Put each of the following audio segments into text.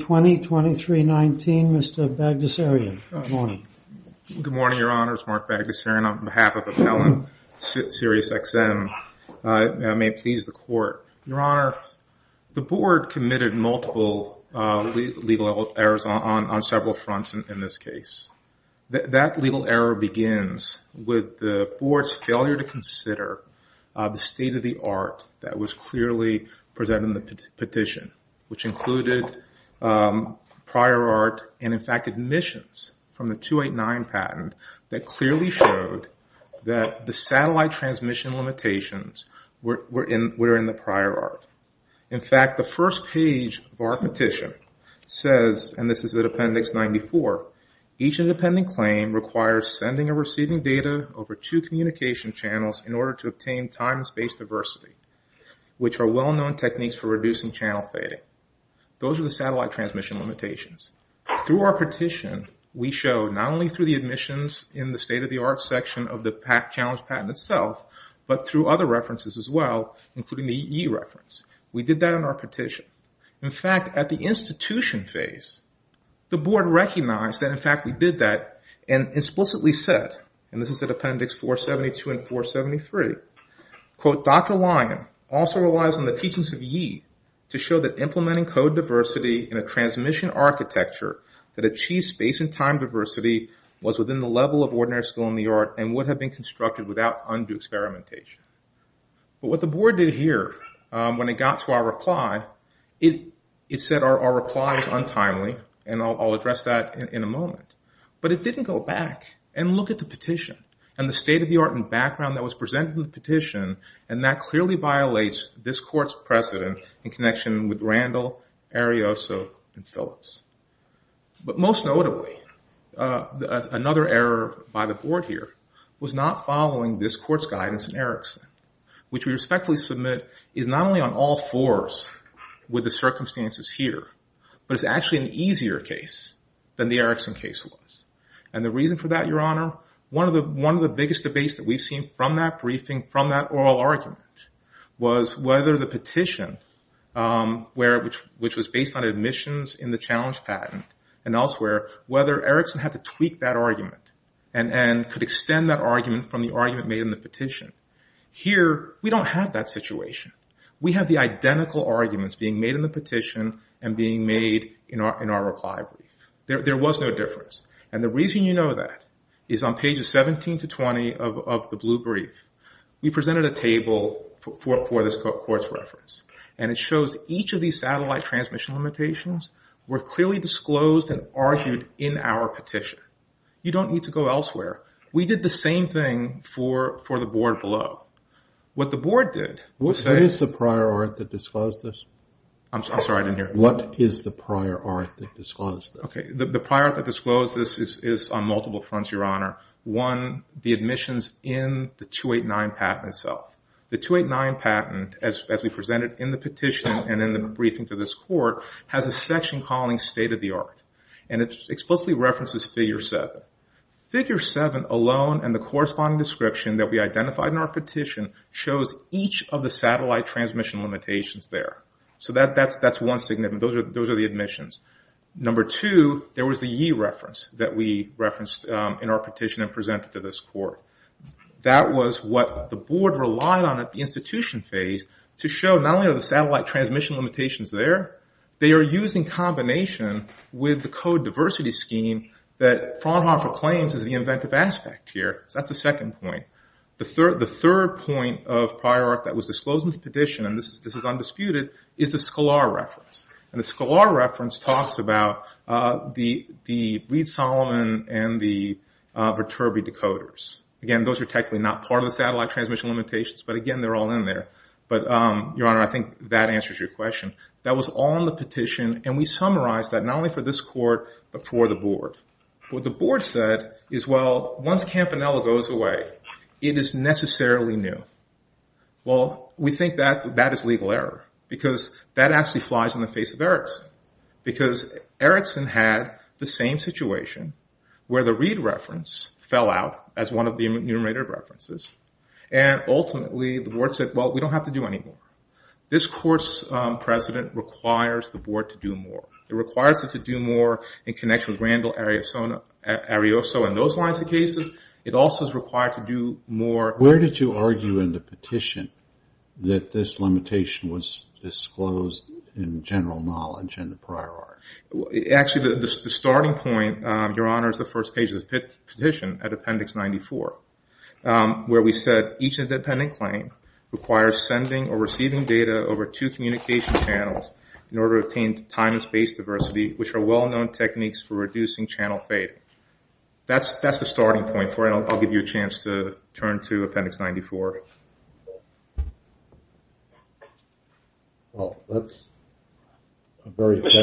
2020-23-19, Mr. Bagdasarian. Good morning. Good morning, Your Honor. It's Mark Bagdasarian on behalf of Appellant Sirius XM. I may please the Court. Your Honor, the Board committed multiple legal errors on several fronts in this case. That legal error begins with the Board's failure to consider the state of the art that was clearly presented in the petition, which included prior art and, in fact, admissions from the 289 patent that clearly showed that the satellite transmission limitations were in the prior art. In fact, the first page of our petition says, and this is at Appendix 94, each independent claim requires sending or receiving data over two communication channels in order to obtain time and space diversity, which are well-known techniques for reducing channel fading. Those are the satellite transmission limitations. Through our petition, we showed not only through the admissions in the state of the art section of the challenge patent itself, but through other references as well, including the E reference. We did that in our petition. In fact, at the institution phase, the Board recognized that, in fact, we did that and explicitly said, and this is at Appendix 472 and 473, quote, Dr. Lyon also relies on the teachings of Yi to show that implementing code diversity in a transmission architecture that achieves space and time diversity was within the level of ordinary skill in the art and would have been constructed without undue experimentation. But what the Board did here when it got to our reply, it said our reply was untimely, and I'll address that in a moment. But it didn't go back and look at the petition and the state of the art and background that was presented in the petition, and that clearly violates this Court's precedent in connection with Randall, Arioso, and Phillips. But most notably, another error by the Board here was not following this Court's guidance in Erickson, which we respectfully submit is not only on all fours with the circumstances here, but it's actually an easier case than the Erickson case was. And the reason for that, Your Honor, one of the biggest debates that we've seen from that briefing, from that oral argument, was whether the petition, which was based on admissions in the challenge patent and elsewhere, whether Erickson had to tweak that argument and could extend that argument from the argument made in the petition. Here, we don't have that situation. We have the identical arguments being made in the petition and being made in our reply brief. There was no difference. And the reason you know that is on pages 17 to 20 of the blue brief, we presented a table for this Court's reference, and it shows each of these satellite transmission limitations were clearly disclosed and argued in our petition. You don't need to go elsewhere. We did the same thing for the Board below. What the Board did was say- What is the prior art that disclosed this? I'm sorry, I didn't hear. What is the prior art that disclosed this? Okay, the prior art that disclosed this is on multiple fronts, Your Honor. One, the admissions in the 289 patent itself. The 289 patent, as we presented in the petition and in the briefing to this Court, has a section calling state of the art. And it explicitly references Figure 7. Figure 7 alone and the corresponding description that we identified in our petition shows each of the satellite transmission limitations there. So that's one significant. Those are the admissions. Number two, there was the yee reference that we referenced in our petition and presented to this Court. That was what the Board relied on at the institution phase to show not only are the satellite transmission limitations there, they are used in combination with the code diversity scheme that Fraunhofer claims is the inventive aspect here. That's the second point. The third point of prior art that was disclosed in the petition, and this is undisputed, is the Scalar reference. And the Scalar reference talks about the Reed-Solomon and the Viterbi decoders. Again, those are technically not part of the satellite transmission limitations, but again, they're all in there. But, Your Honor, I think that answers your question. That was all in the petition and we summarized that not only for this Court but for the Board. What the Board said is, well, once Campanella goes away, it is necessarily new. Well, we think that is legal error because that actually flies in the face of Erickson because Erickson had the same situation where the Reed reference fell out as one of the enumerated references and ultimately the Board said, well, we don't have to do any more. This Court's precedent requires the Board to do more. It requires it to do more in connection with Randall Arioso and those lines of cases. It also is required to do more. Where did you argue in the petition that this limitation was disclosed in general knowledge in the prior art? Actually, the starting point, Your Honor, is the first page of the petition at Appendix 94 where we said each independent claim requires sending or receiving data over two communication channels in order to obtain time and space diversity, which are well-known techniques for reducing channel fate. That's the starting point for it. I'll give you a chance to turn to Appendix 94. Mr.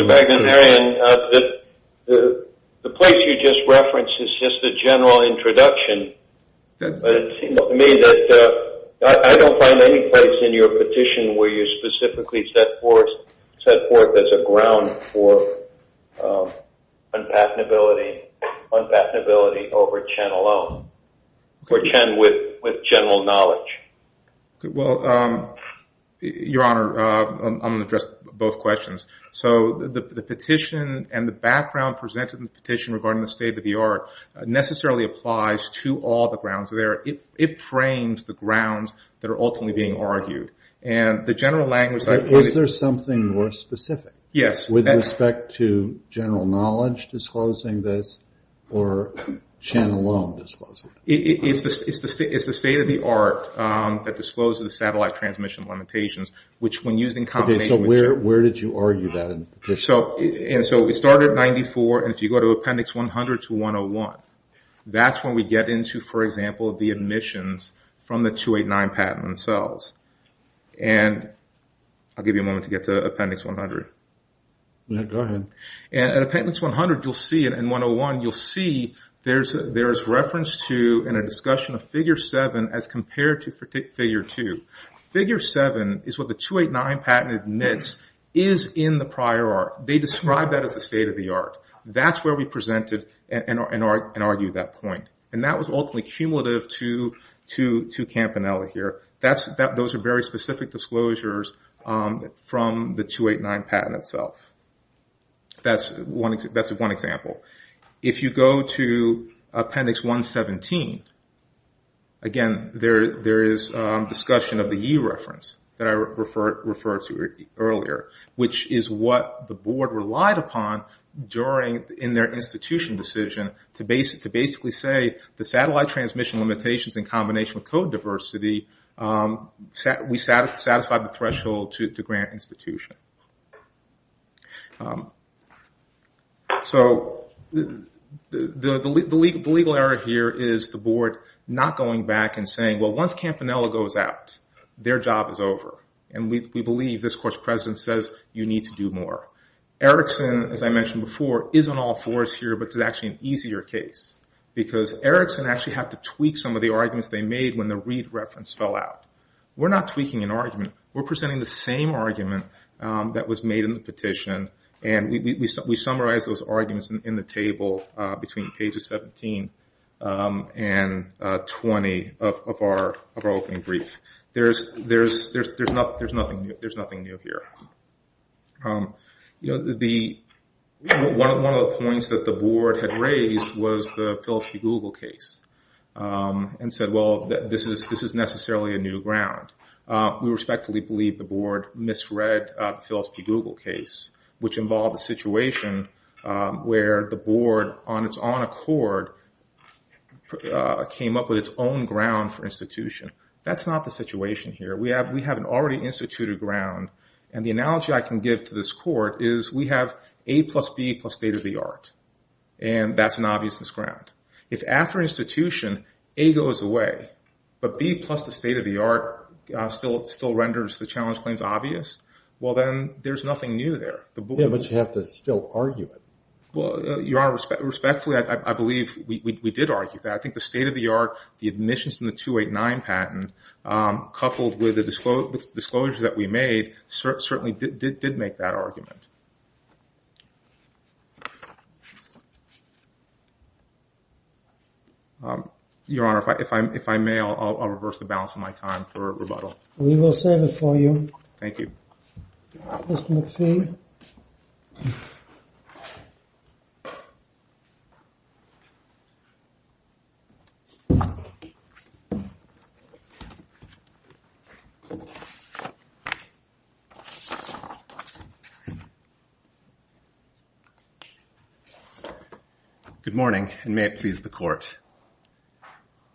McNamara, the place you just referenced is just a general introduction to what we are doing. I don't find any place in your petition where you specifically set forth as a ground for unpatenability over Chen alone, or Chen with general knowledge. Well, Your Honor, I'm going to address both questions. The petition and the background presented in the petition regarding the state-of-the-art necessarily applies to all the grounds there. It frames the grounds that are ultimately being argued. Is there something more specific with respect to general knowledge disclosing this or Chen alone disclosing it? It's the state-of-the-art that discloses the satellite transmission limitations, which when used in combination with Chen. Where did you argue that in the petition? We start at 94, and if you go to Appendix 100 to 101, that's when we get into, for example, the admissions from the 289 patent themselves. I'll give you a moment to get to Appendix 100. Go ahead. At Appendix 100 and 101, you'll see there's reference to and a discussion of Figure 7 as compared to Figure 2. Figure 7 is what the 289 patent admits is in the prior art. They describe that as the state-of-the-art. That's where we presented and argued that point. That was ultimately cumulative to Campanella here. Those are very specific disclosures from the 289 patent itself. That's one example. If you go to Appendix 117, again, there is discussion of the E reference that I referred to earlier, which is what the board relied upon in their institution decision to basically say the satellite transmission limitations in combination with code diversity, we satisfied the threshold to grant institution. The legal error here is the board not going back and saying, well, once Campanella goes out, their job is over. We believe this course president says you need to do more. Erickson, as I mentioned before, isn't all for us here, but it's actually an easier case. Erickson actually had to tweak some of the arguments they made when the READ reference fell out. We're not tweaking an argument. We're presenting the same argument that was made in the petition. We summarized those arguments in the table between pages 17 and 20 of our opening brief. There's nothing new here. One of the points that the board had raised was the Phillips v. Google case and said, well, this is necessarily a new ground. We respectfully believe the board misread the Phillips v. Google case, which involved a situation where the board, on its own accord, came up with its own ground for institution. That's not the situation here. We have an already instituted ground, and the analogy I can give to this court is we have A plus B plus state of the art, and that's an obviousness ground. If after institution, A goes away, but B plus the state of the art still renders the challenge claims obvious, well, then there's nothing new there. Respectfully, I believe we did argue that. I think the state of the art, the admissions in the 289 patent, coupled with the disclosure that we made certainly did make that argument. Your Honor, if I may, I'll reverse the balance of my time for rebuttal. We will serve it for you. Thank you. Good morning, and may it please the court.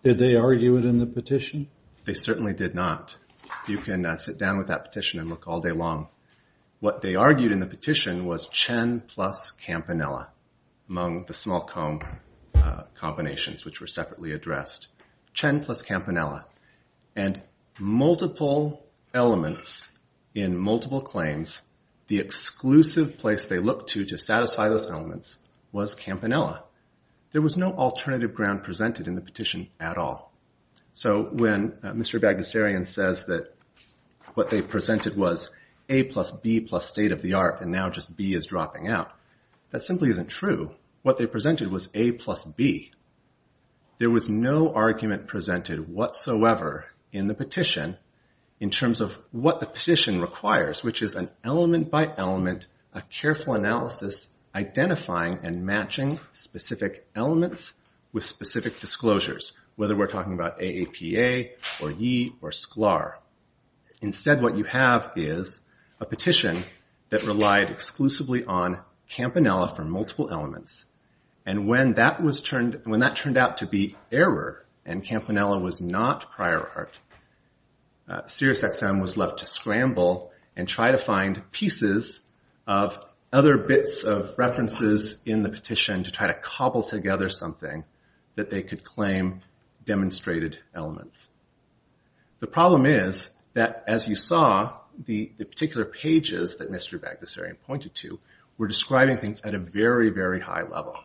Did they argue it in the petition? They certainly did not. You can sit down with that petition and look all day long. What they argued in the petition was Chen plus Campanella, among the small comb combinations, which were separately addressed. Chen plus Campanella. And multiple elements in multiple claims, the exclusive place they presented in the petition at all. So when Mr. Bagnustarian says that what they presented was A plus B plus state of the art, and now just B is dropping out, that simply isn't true. What they presented was A plus B. There was no argument presented whatsoever in the petition in terms of what the petition requires, which is an element by element, a careful analysis, identifying and matching specific elements with specific disclosures, whether we're talking about AAPA or Yee or Sklar. Instead, what you have is a petition that relied exclusively on Campanella for multiple elements. And when that turned out to be error, and Campanella was not prior art, Sirius XM was left to scramble and try to find pieces of other bits of references in the petition to try to cobble together something that they could claim demonstrated elements. The problem is that, as you saw, the particular pages that Mr. Bagnustarian pointed to were describing things at a very, very high level.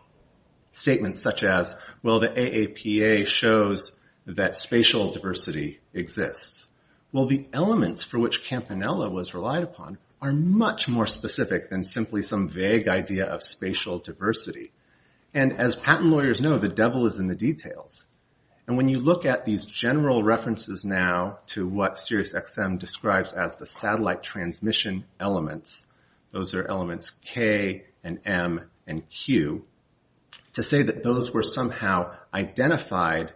Statements such as, well, the AAPA shows that spatial diversity exists. Well, the elements for which Campanella was relied upon are much more detailed. And when you look at these general references now to what Sirius XM describes as the satellite transmission elements, those are elements K and M and Q, to say that those were somehow identified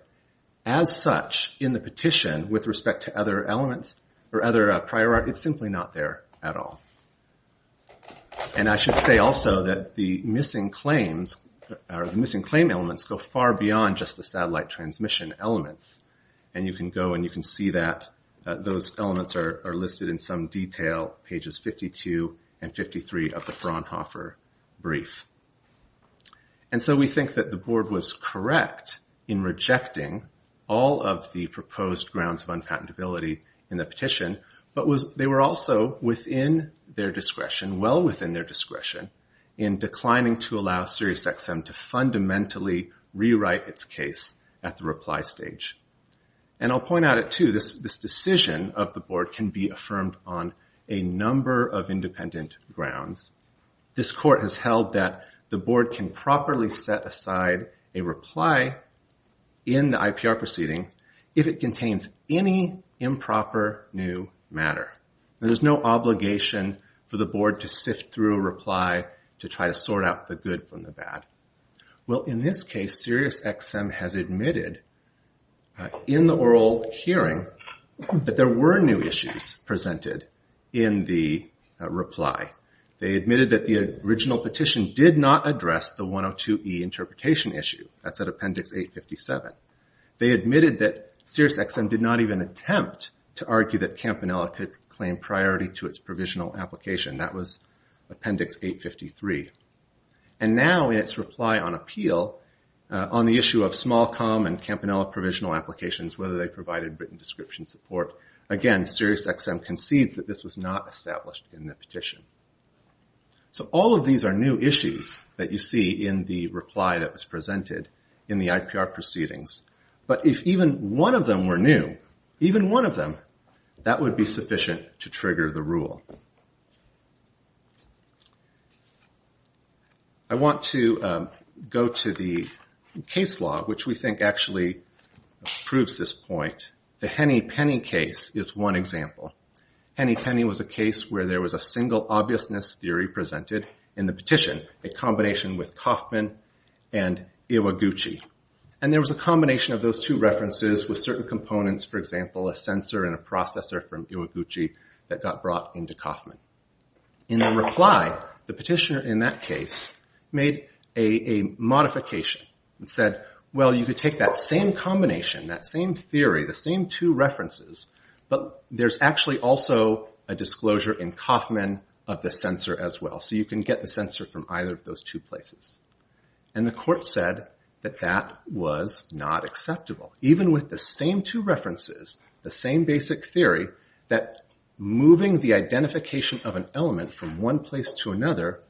as such in the petition with respect to other elements or other prior art, it's simply not there at all. And I should say also that the missing claim elements go far beyond just the satellite transmission elements. And you can go and you can see that those elements are listed in some detail, pages 52 and 53 of the Fraunhofer brief. And so we think that the board was correct in rejecting all of the proposed grounds of their discretion, well within their discretion, in declining to allow Sirius XM to fundamentally rewrite its case at the reply stage. And I'll point out it too, this decision of the board can be affirmed on a number of independent grounds. This court has held that the board can properly set aside a reply in the IPR proceeding if it contains any improper new matter. There's no obligation for the board to sift through a reply to try to sort out the good from the bad. Well in this case Sirius XM has admitted in the oral hearing that there were new issues presented in the reply. They admitted that the original petition did not address the 102E interpretation issue. That's at appendix 857. They admitted that Sirius XM did not even attempt to argue that Campanella could claim priority to its provisional application. That was appendix 853. And now in its reply on appeal on the issue of small com and Campanella provisional applications, whether they provided written description support, again Sirius XM concedes that this was not established in the petition. So all of these are new issues that you see in the reply that was presented in the IPR proceedings. But if even one of them were new, even one of them, that would be sufficient to trigger the rule. I want to go to the case law which we think actually proves this point. The Henney-Penney case is one example. Henney-Penney was a case where there was a single obviousness theory presented in the petition, a combination with Kaufman and Iwaguchi. And there was a combination of those two references with certain components, for example, a sensor and a processor from Iwaguchi that got brought into Kaufman. In the reply, the petitioner in that case made a modification and said, well you could take that same combination, that same theory, the same two references, but there's actually also a disclosure in Kaufman of the sensor as well. So you can get the sensor from either of those two places. And the court said that that was not acceptable. Even with the same two references, the same basic theory, that moving the identification of an element from one place to another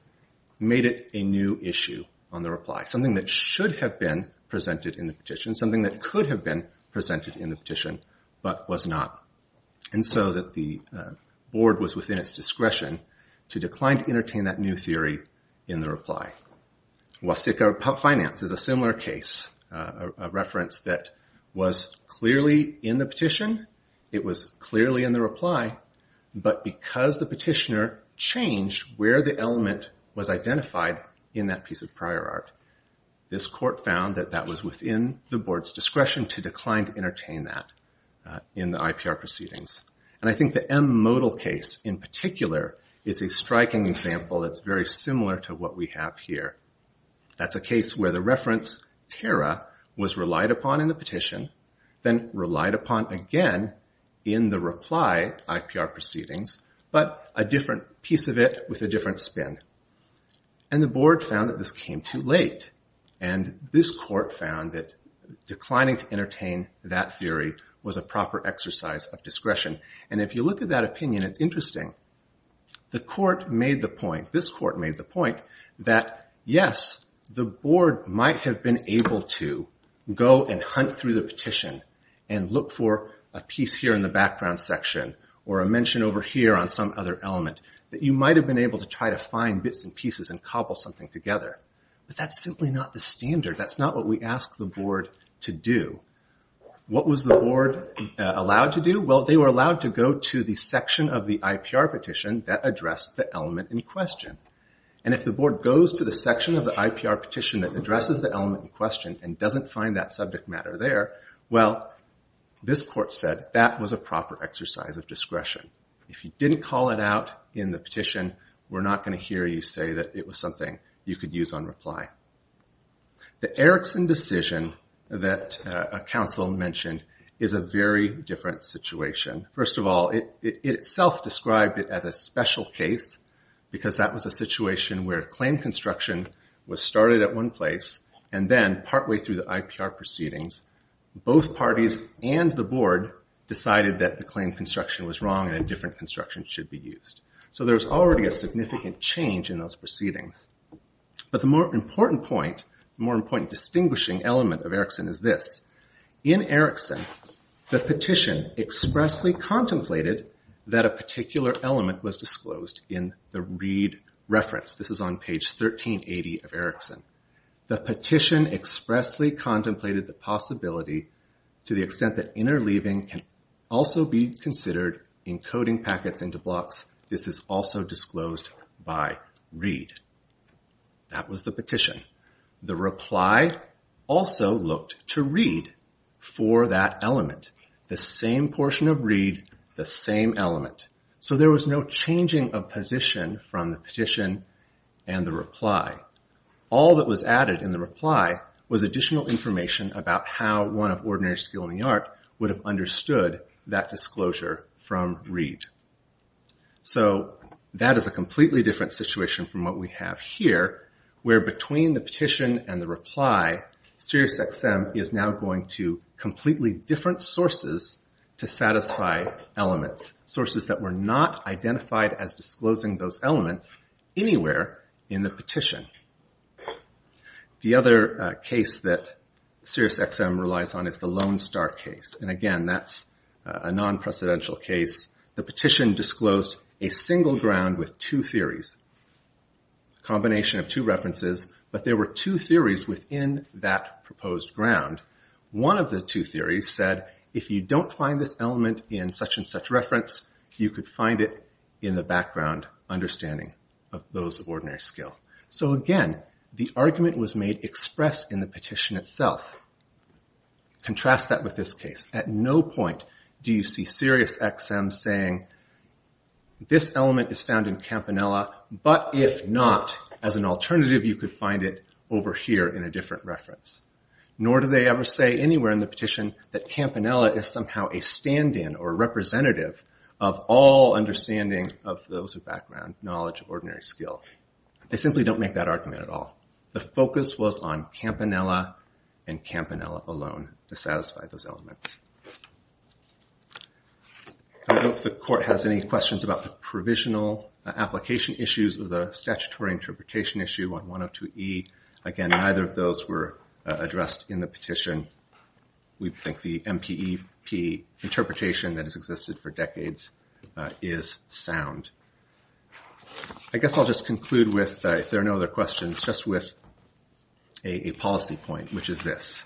made it a new issue on the reply, something that should have been presented in the petition, something that could have been presented in the petition but was not. And so that the board was within its discretion to decline to entertain that new theory in the reply. Wasika Finance is a similar case, a reference that was clearly in the petition, it was clearly in the reply, but because the petitioner changed where the element was identified in that piece of prior art, this court found that that was within the reference. And I think the M modal case in particular is a striking example that's very similar to what we have here. That's a case where the reference terra was relied upon in the petition, then relied upon again in the reply IPR proceedings, but a different piece of it with a different spin. And the board found that this came too late. And this court found that declining to entertain that theory was a proper exercise of discretion. And if you look at that opinion, it's interesting. The court made the point, this court made the point that yes, the board might have been able to go and hunt through the petition and look for a piece here in the background section or a mention over here on some other element that you might have been able to try to find bits and pieces and cobble something together. But that's simply not the standard. That's not what we ask the board to do. What was the board allowed to do? Well, they were allowed to go to the section of the IPR petition that addressed the element in question. And if the board goes to the section of the IPR petition that addresses the element in question and doesn't find that subject matter there, well, this court said that was a proper exercise of discretion. If you didn't call it out in the petition, we're not going to hear you say that it was something you could use on reply. The Erickson decision that a counsel mentioned is a very different situation. First of all, it itself described it as a special case because that was a situation where claim construction was started at one place and then partway through the IPR proceedings, both parties and the board decided that the claim construction was wrong and a different construction should be started. The more important distinguishing element of Erickson is this. In Erickson, the petition expressly contemplated that a particular element was disclosed in the Reed reference. This is on page 1380 of Erickson. The petition expressly contemplated the possibility to the extent that interleaving can also be considered encoding packets into blocks, this is also disclosed by Reed. That was the petition. The reply also looked to Reed for that element. The same portion of Reed, the same element. So there was no changing of position from the petition and the reply. All that was added in the reply was additional information about how one of ordinary skill in the art would have understood that disclosure from Reed. So that is a completely different situation from what we have here where between the petition and the reply, SiriusXM is now going to completely different sources to satisfy elements, sources that were not identified as disclosing those elements anywhere in the petition. The other case that SiriusXM relies on is the Lone Star case. And again, that's a non-precedential case. The petition disclosed a single ground with two theories, a combination of two references, but there were two theories within that proposed ground. One of the two theories said if you don't find this element in such and such reference, you could find it in the background understanding of those of ordinary skill. So again, the argument was made express in the petition itself. Contrast that with this case. At no point do you see SiriusXM saying this element is found in Campanella, but if not, as an alternative you could find it over here in a different reference. Nor do they ever say anywhere in the petition that Campanella is somehow a stand-in or representative of all understanding of those of background knowledge of ordinary skill. They simply don't make that argument at all. The focus was on Campanella and Campanella alone to satisfy those elements. I don't know if the court has any questions about the provisional application issues of the statutory interpretation issue on 102E. Again, neither of those were addressed in the petition. We think the MPEP interpretation that has existed for decades is sound. I guess I'll just conclude with, if there are no other questions, just with a policy point, which is this.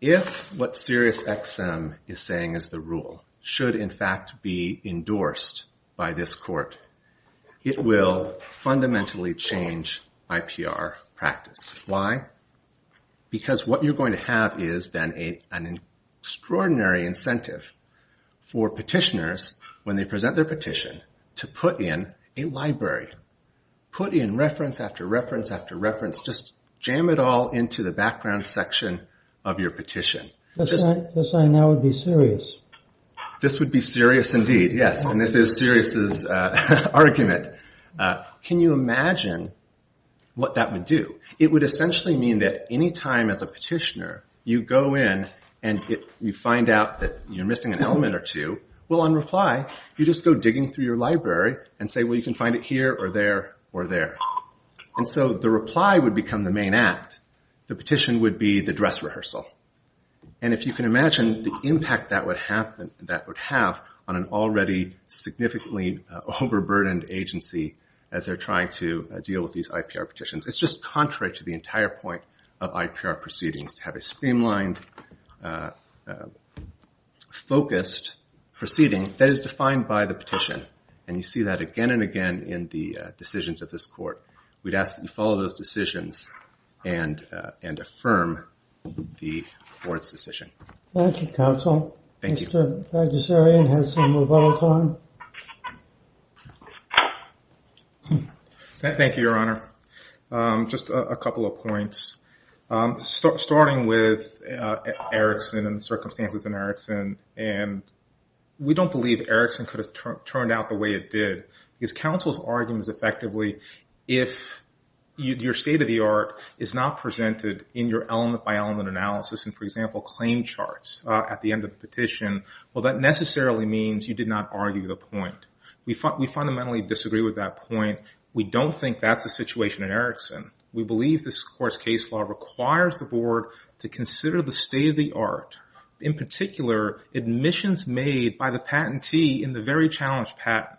If what SiriusXM is saying is the rule, should in fact be endorsed by this court, it will fundamentally change IPR practice. Why? Because what you're going to have is then an extraordinary incentive for petitioners when they present their petition to put in a library. Put in reference after reference after reference. Just jam it all into the background section of your petition. This would be SiriusXM's argument. Can you imagine what that would do? It would essentially mean that any time as a petitioner you go in and you find out that you're missing an element or two, well, on reply, you just go digging through your library and say, well, you can find it here or there or there. The reply would become the main act. The petition would be the dress rehearsal. If you can imagine the impact that would have on an already significantly overburdened agency as they're trying to deal with these IPR petitions. It's just contrary to the entire point of IPR proceedings, to have a streamlined, focused proceeding that is defined by the petition. And you see that again and again in the decisions of this court. We'd ask that you follow those decisions and affirm the court's decision. Thank you, counsel. Thank you, Your Honor. Just a couple of points. Starting with Erickson and the circumstances in Erickson. We don't believe Erickson could have turned out the way it did. Because counsel's argument is effectively, if your state-of-the-art is not presented in your element-by-element analysis, and, for example, claim charts at the end of the petition, well, that necessarily means you did not argue the point. We fundamentally disagree with that point. We don't think that's the situation in Erickson. We believe this court's case law requires the board to consider the state-of-the-art, in particular, admissions made by the patentee in the very challenged patent.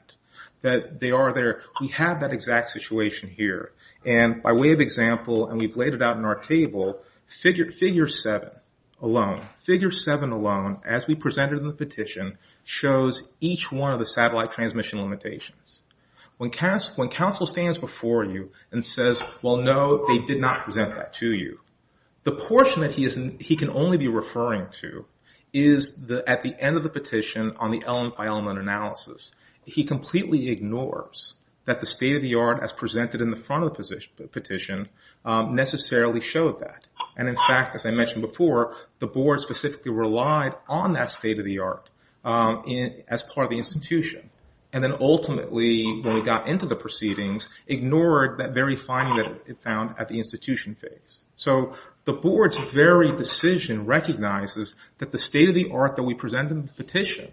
We have that exact situation here. And by way of example, and we've laid it out in our table, figure seven alone, as we presented in the petition, shows each one of the satellite transmission limitations. When counsel stands before you and says, well, no, they did not present that to you, the portion that he can only be referring to is at the end of the petition on the element-by-element analysis. He completely ignores that the state-of-the-art, as presented in the front of the petition, necessarily showed that. And, in fact, as I mentioned before, the board specifically relied on that state-of-the-art as part of the institution. And then, ultimately, when we got into the proceedings, ignored that very finding that it found at the institution phase. So the board's very decision recognizes that the state-of-the-art that we present in the petition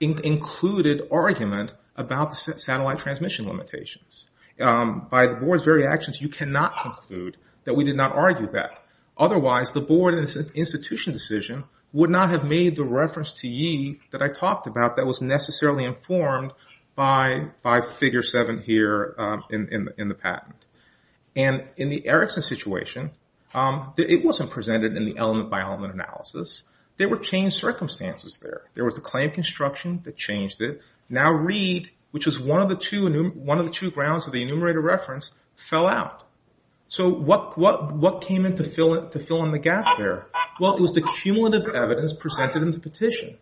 included argument about the satellite transmission limitations. By the board's very actions, you cannot conclude that we did not argue that. Otherwise, the board institution decision would not have made the reference to ye that I talked about that was necessarily informed by figure seven here in the patent. And in the Erickson situation, it wasn't presented in the element-by-element analysis. There were changed circumstances there. There was a claim construction that changed it. Now, Reed, which was one of the two grounds of the enumerator reference, fell out. So what came in to fill in the gap there? Well, it was the cumulative evidence presented in the petition.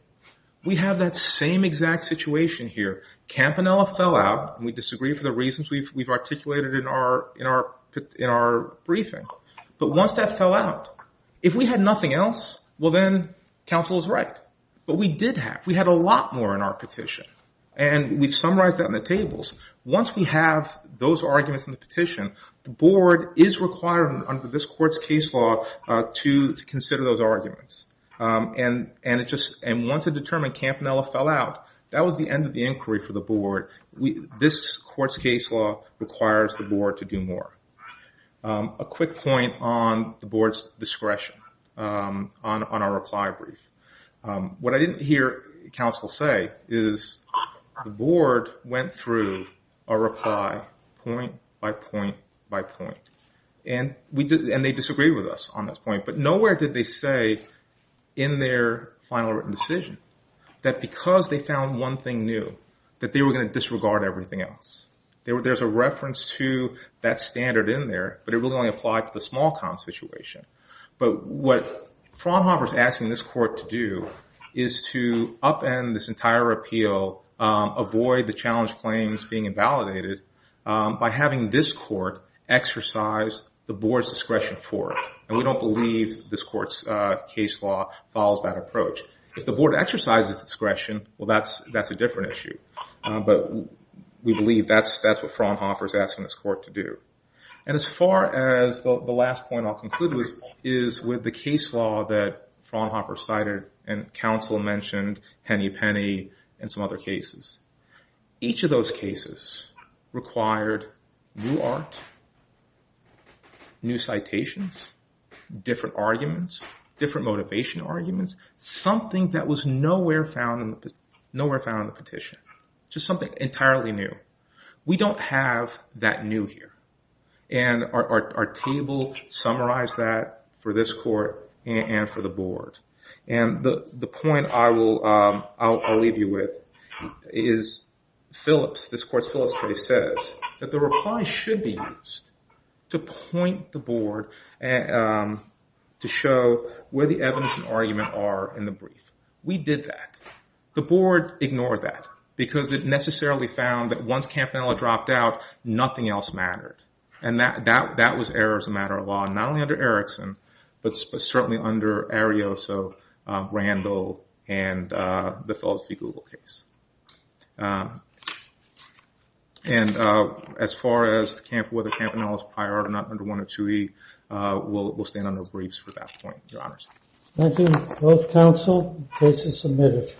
We have that same exact situation here. Campanella fell out, and we disagree for the reasons we've articulated in our briefing. But once that fell out, if we had nothing else, well, then counsel is right. But we did have. We had a lot more in our petition. And we've summarized that in the tables. Once we have those arguments in the petition, the board is required under this court's case law to consider those arguments. And once it determined Campanella fell out, that was the end of the inquiry for the board. This court's case law requires the board to do more. A quick point on the board's discretion on our reply brief. What I didn't hear counsel say is the board went through a reply point by point by point. And they disagreed with us on this point. But nowhere did they say in their final written decision that because they found one thing new, that they were going to disregard everything else. There's a reference to that standard in there, but it really only applied to the small-com situation. But what Fraunhofer's asking this court to do is to upend this entire appeal, avoid the challenge claims being invalidated by having this court exercise the board's discretion for it. And we don't believe this court's case law follows that approach. If the board exercises discretion, well, that's a different issue. But we believe that's what Fraunhofer's asking this court to do. And as far as the last point I'll conclude with is with the case law that Fraunhofer cited, and counsel mentioned Hennepinney and some other cases. Each of those cases required new art, new citations, different arguments, different motivation arguments, something that was nowhere found in the petition, just something entirely new. We don't have that new here. And our table summarized that for this court and for the board. And the point I'll leave you with is this court's Phillips case says that the reply should be used to point the board to show where the evidence and argument are in the brief. We did that. The board ignored that because it necessarily found that once Campanella dropped out, nothing else mattered. And that was errors of matter of law, not only under Erickson, but certainly under Arioso, Randall, and the Phillips v. Google case. And as far as whether Campanella's prior art are not under 102E, we'll stand on no briefs for that point, Your Honors. Thank you. Both counsel, the case is submitted.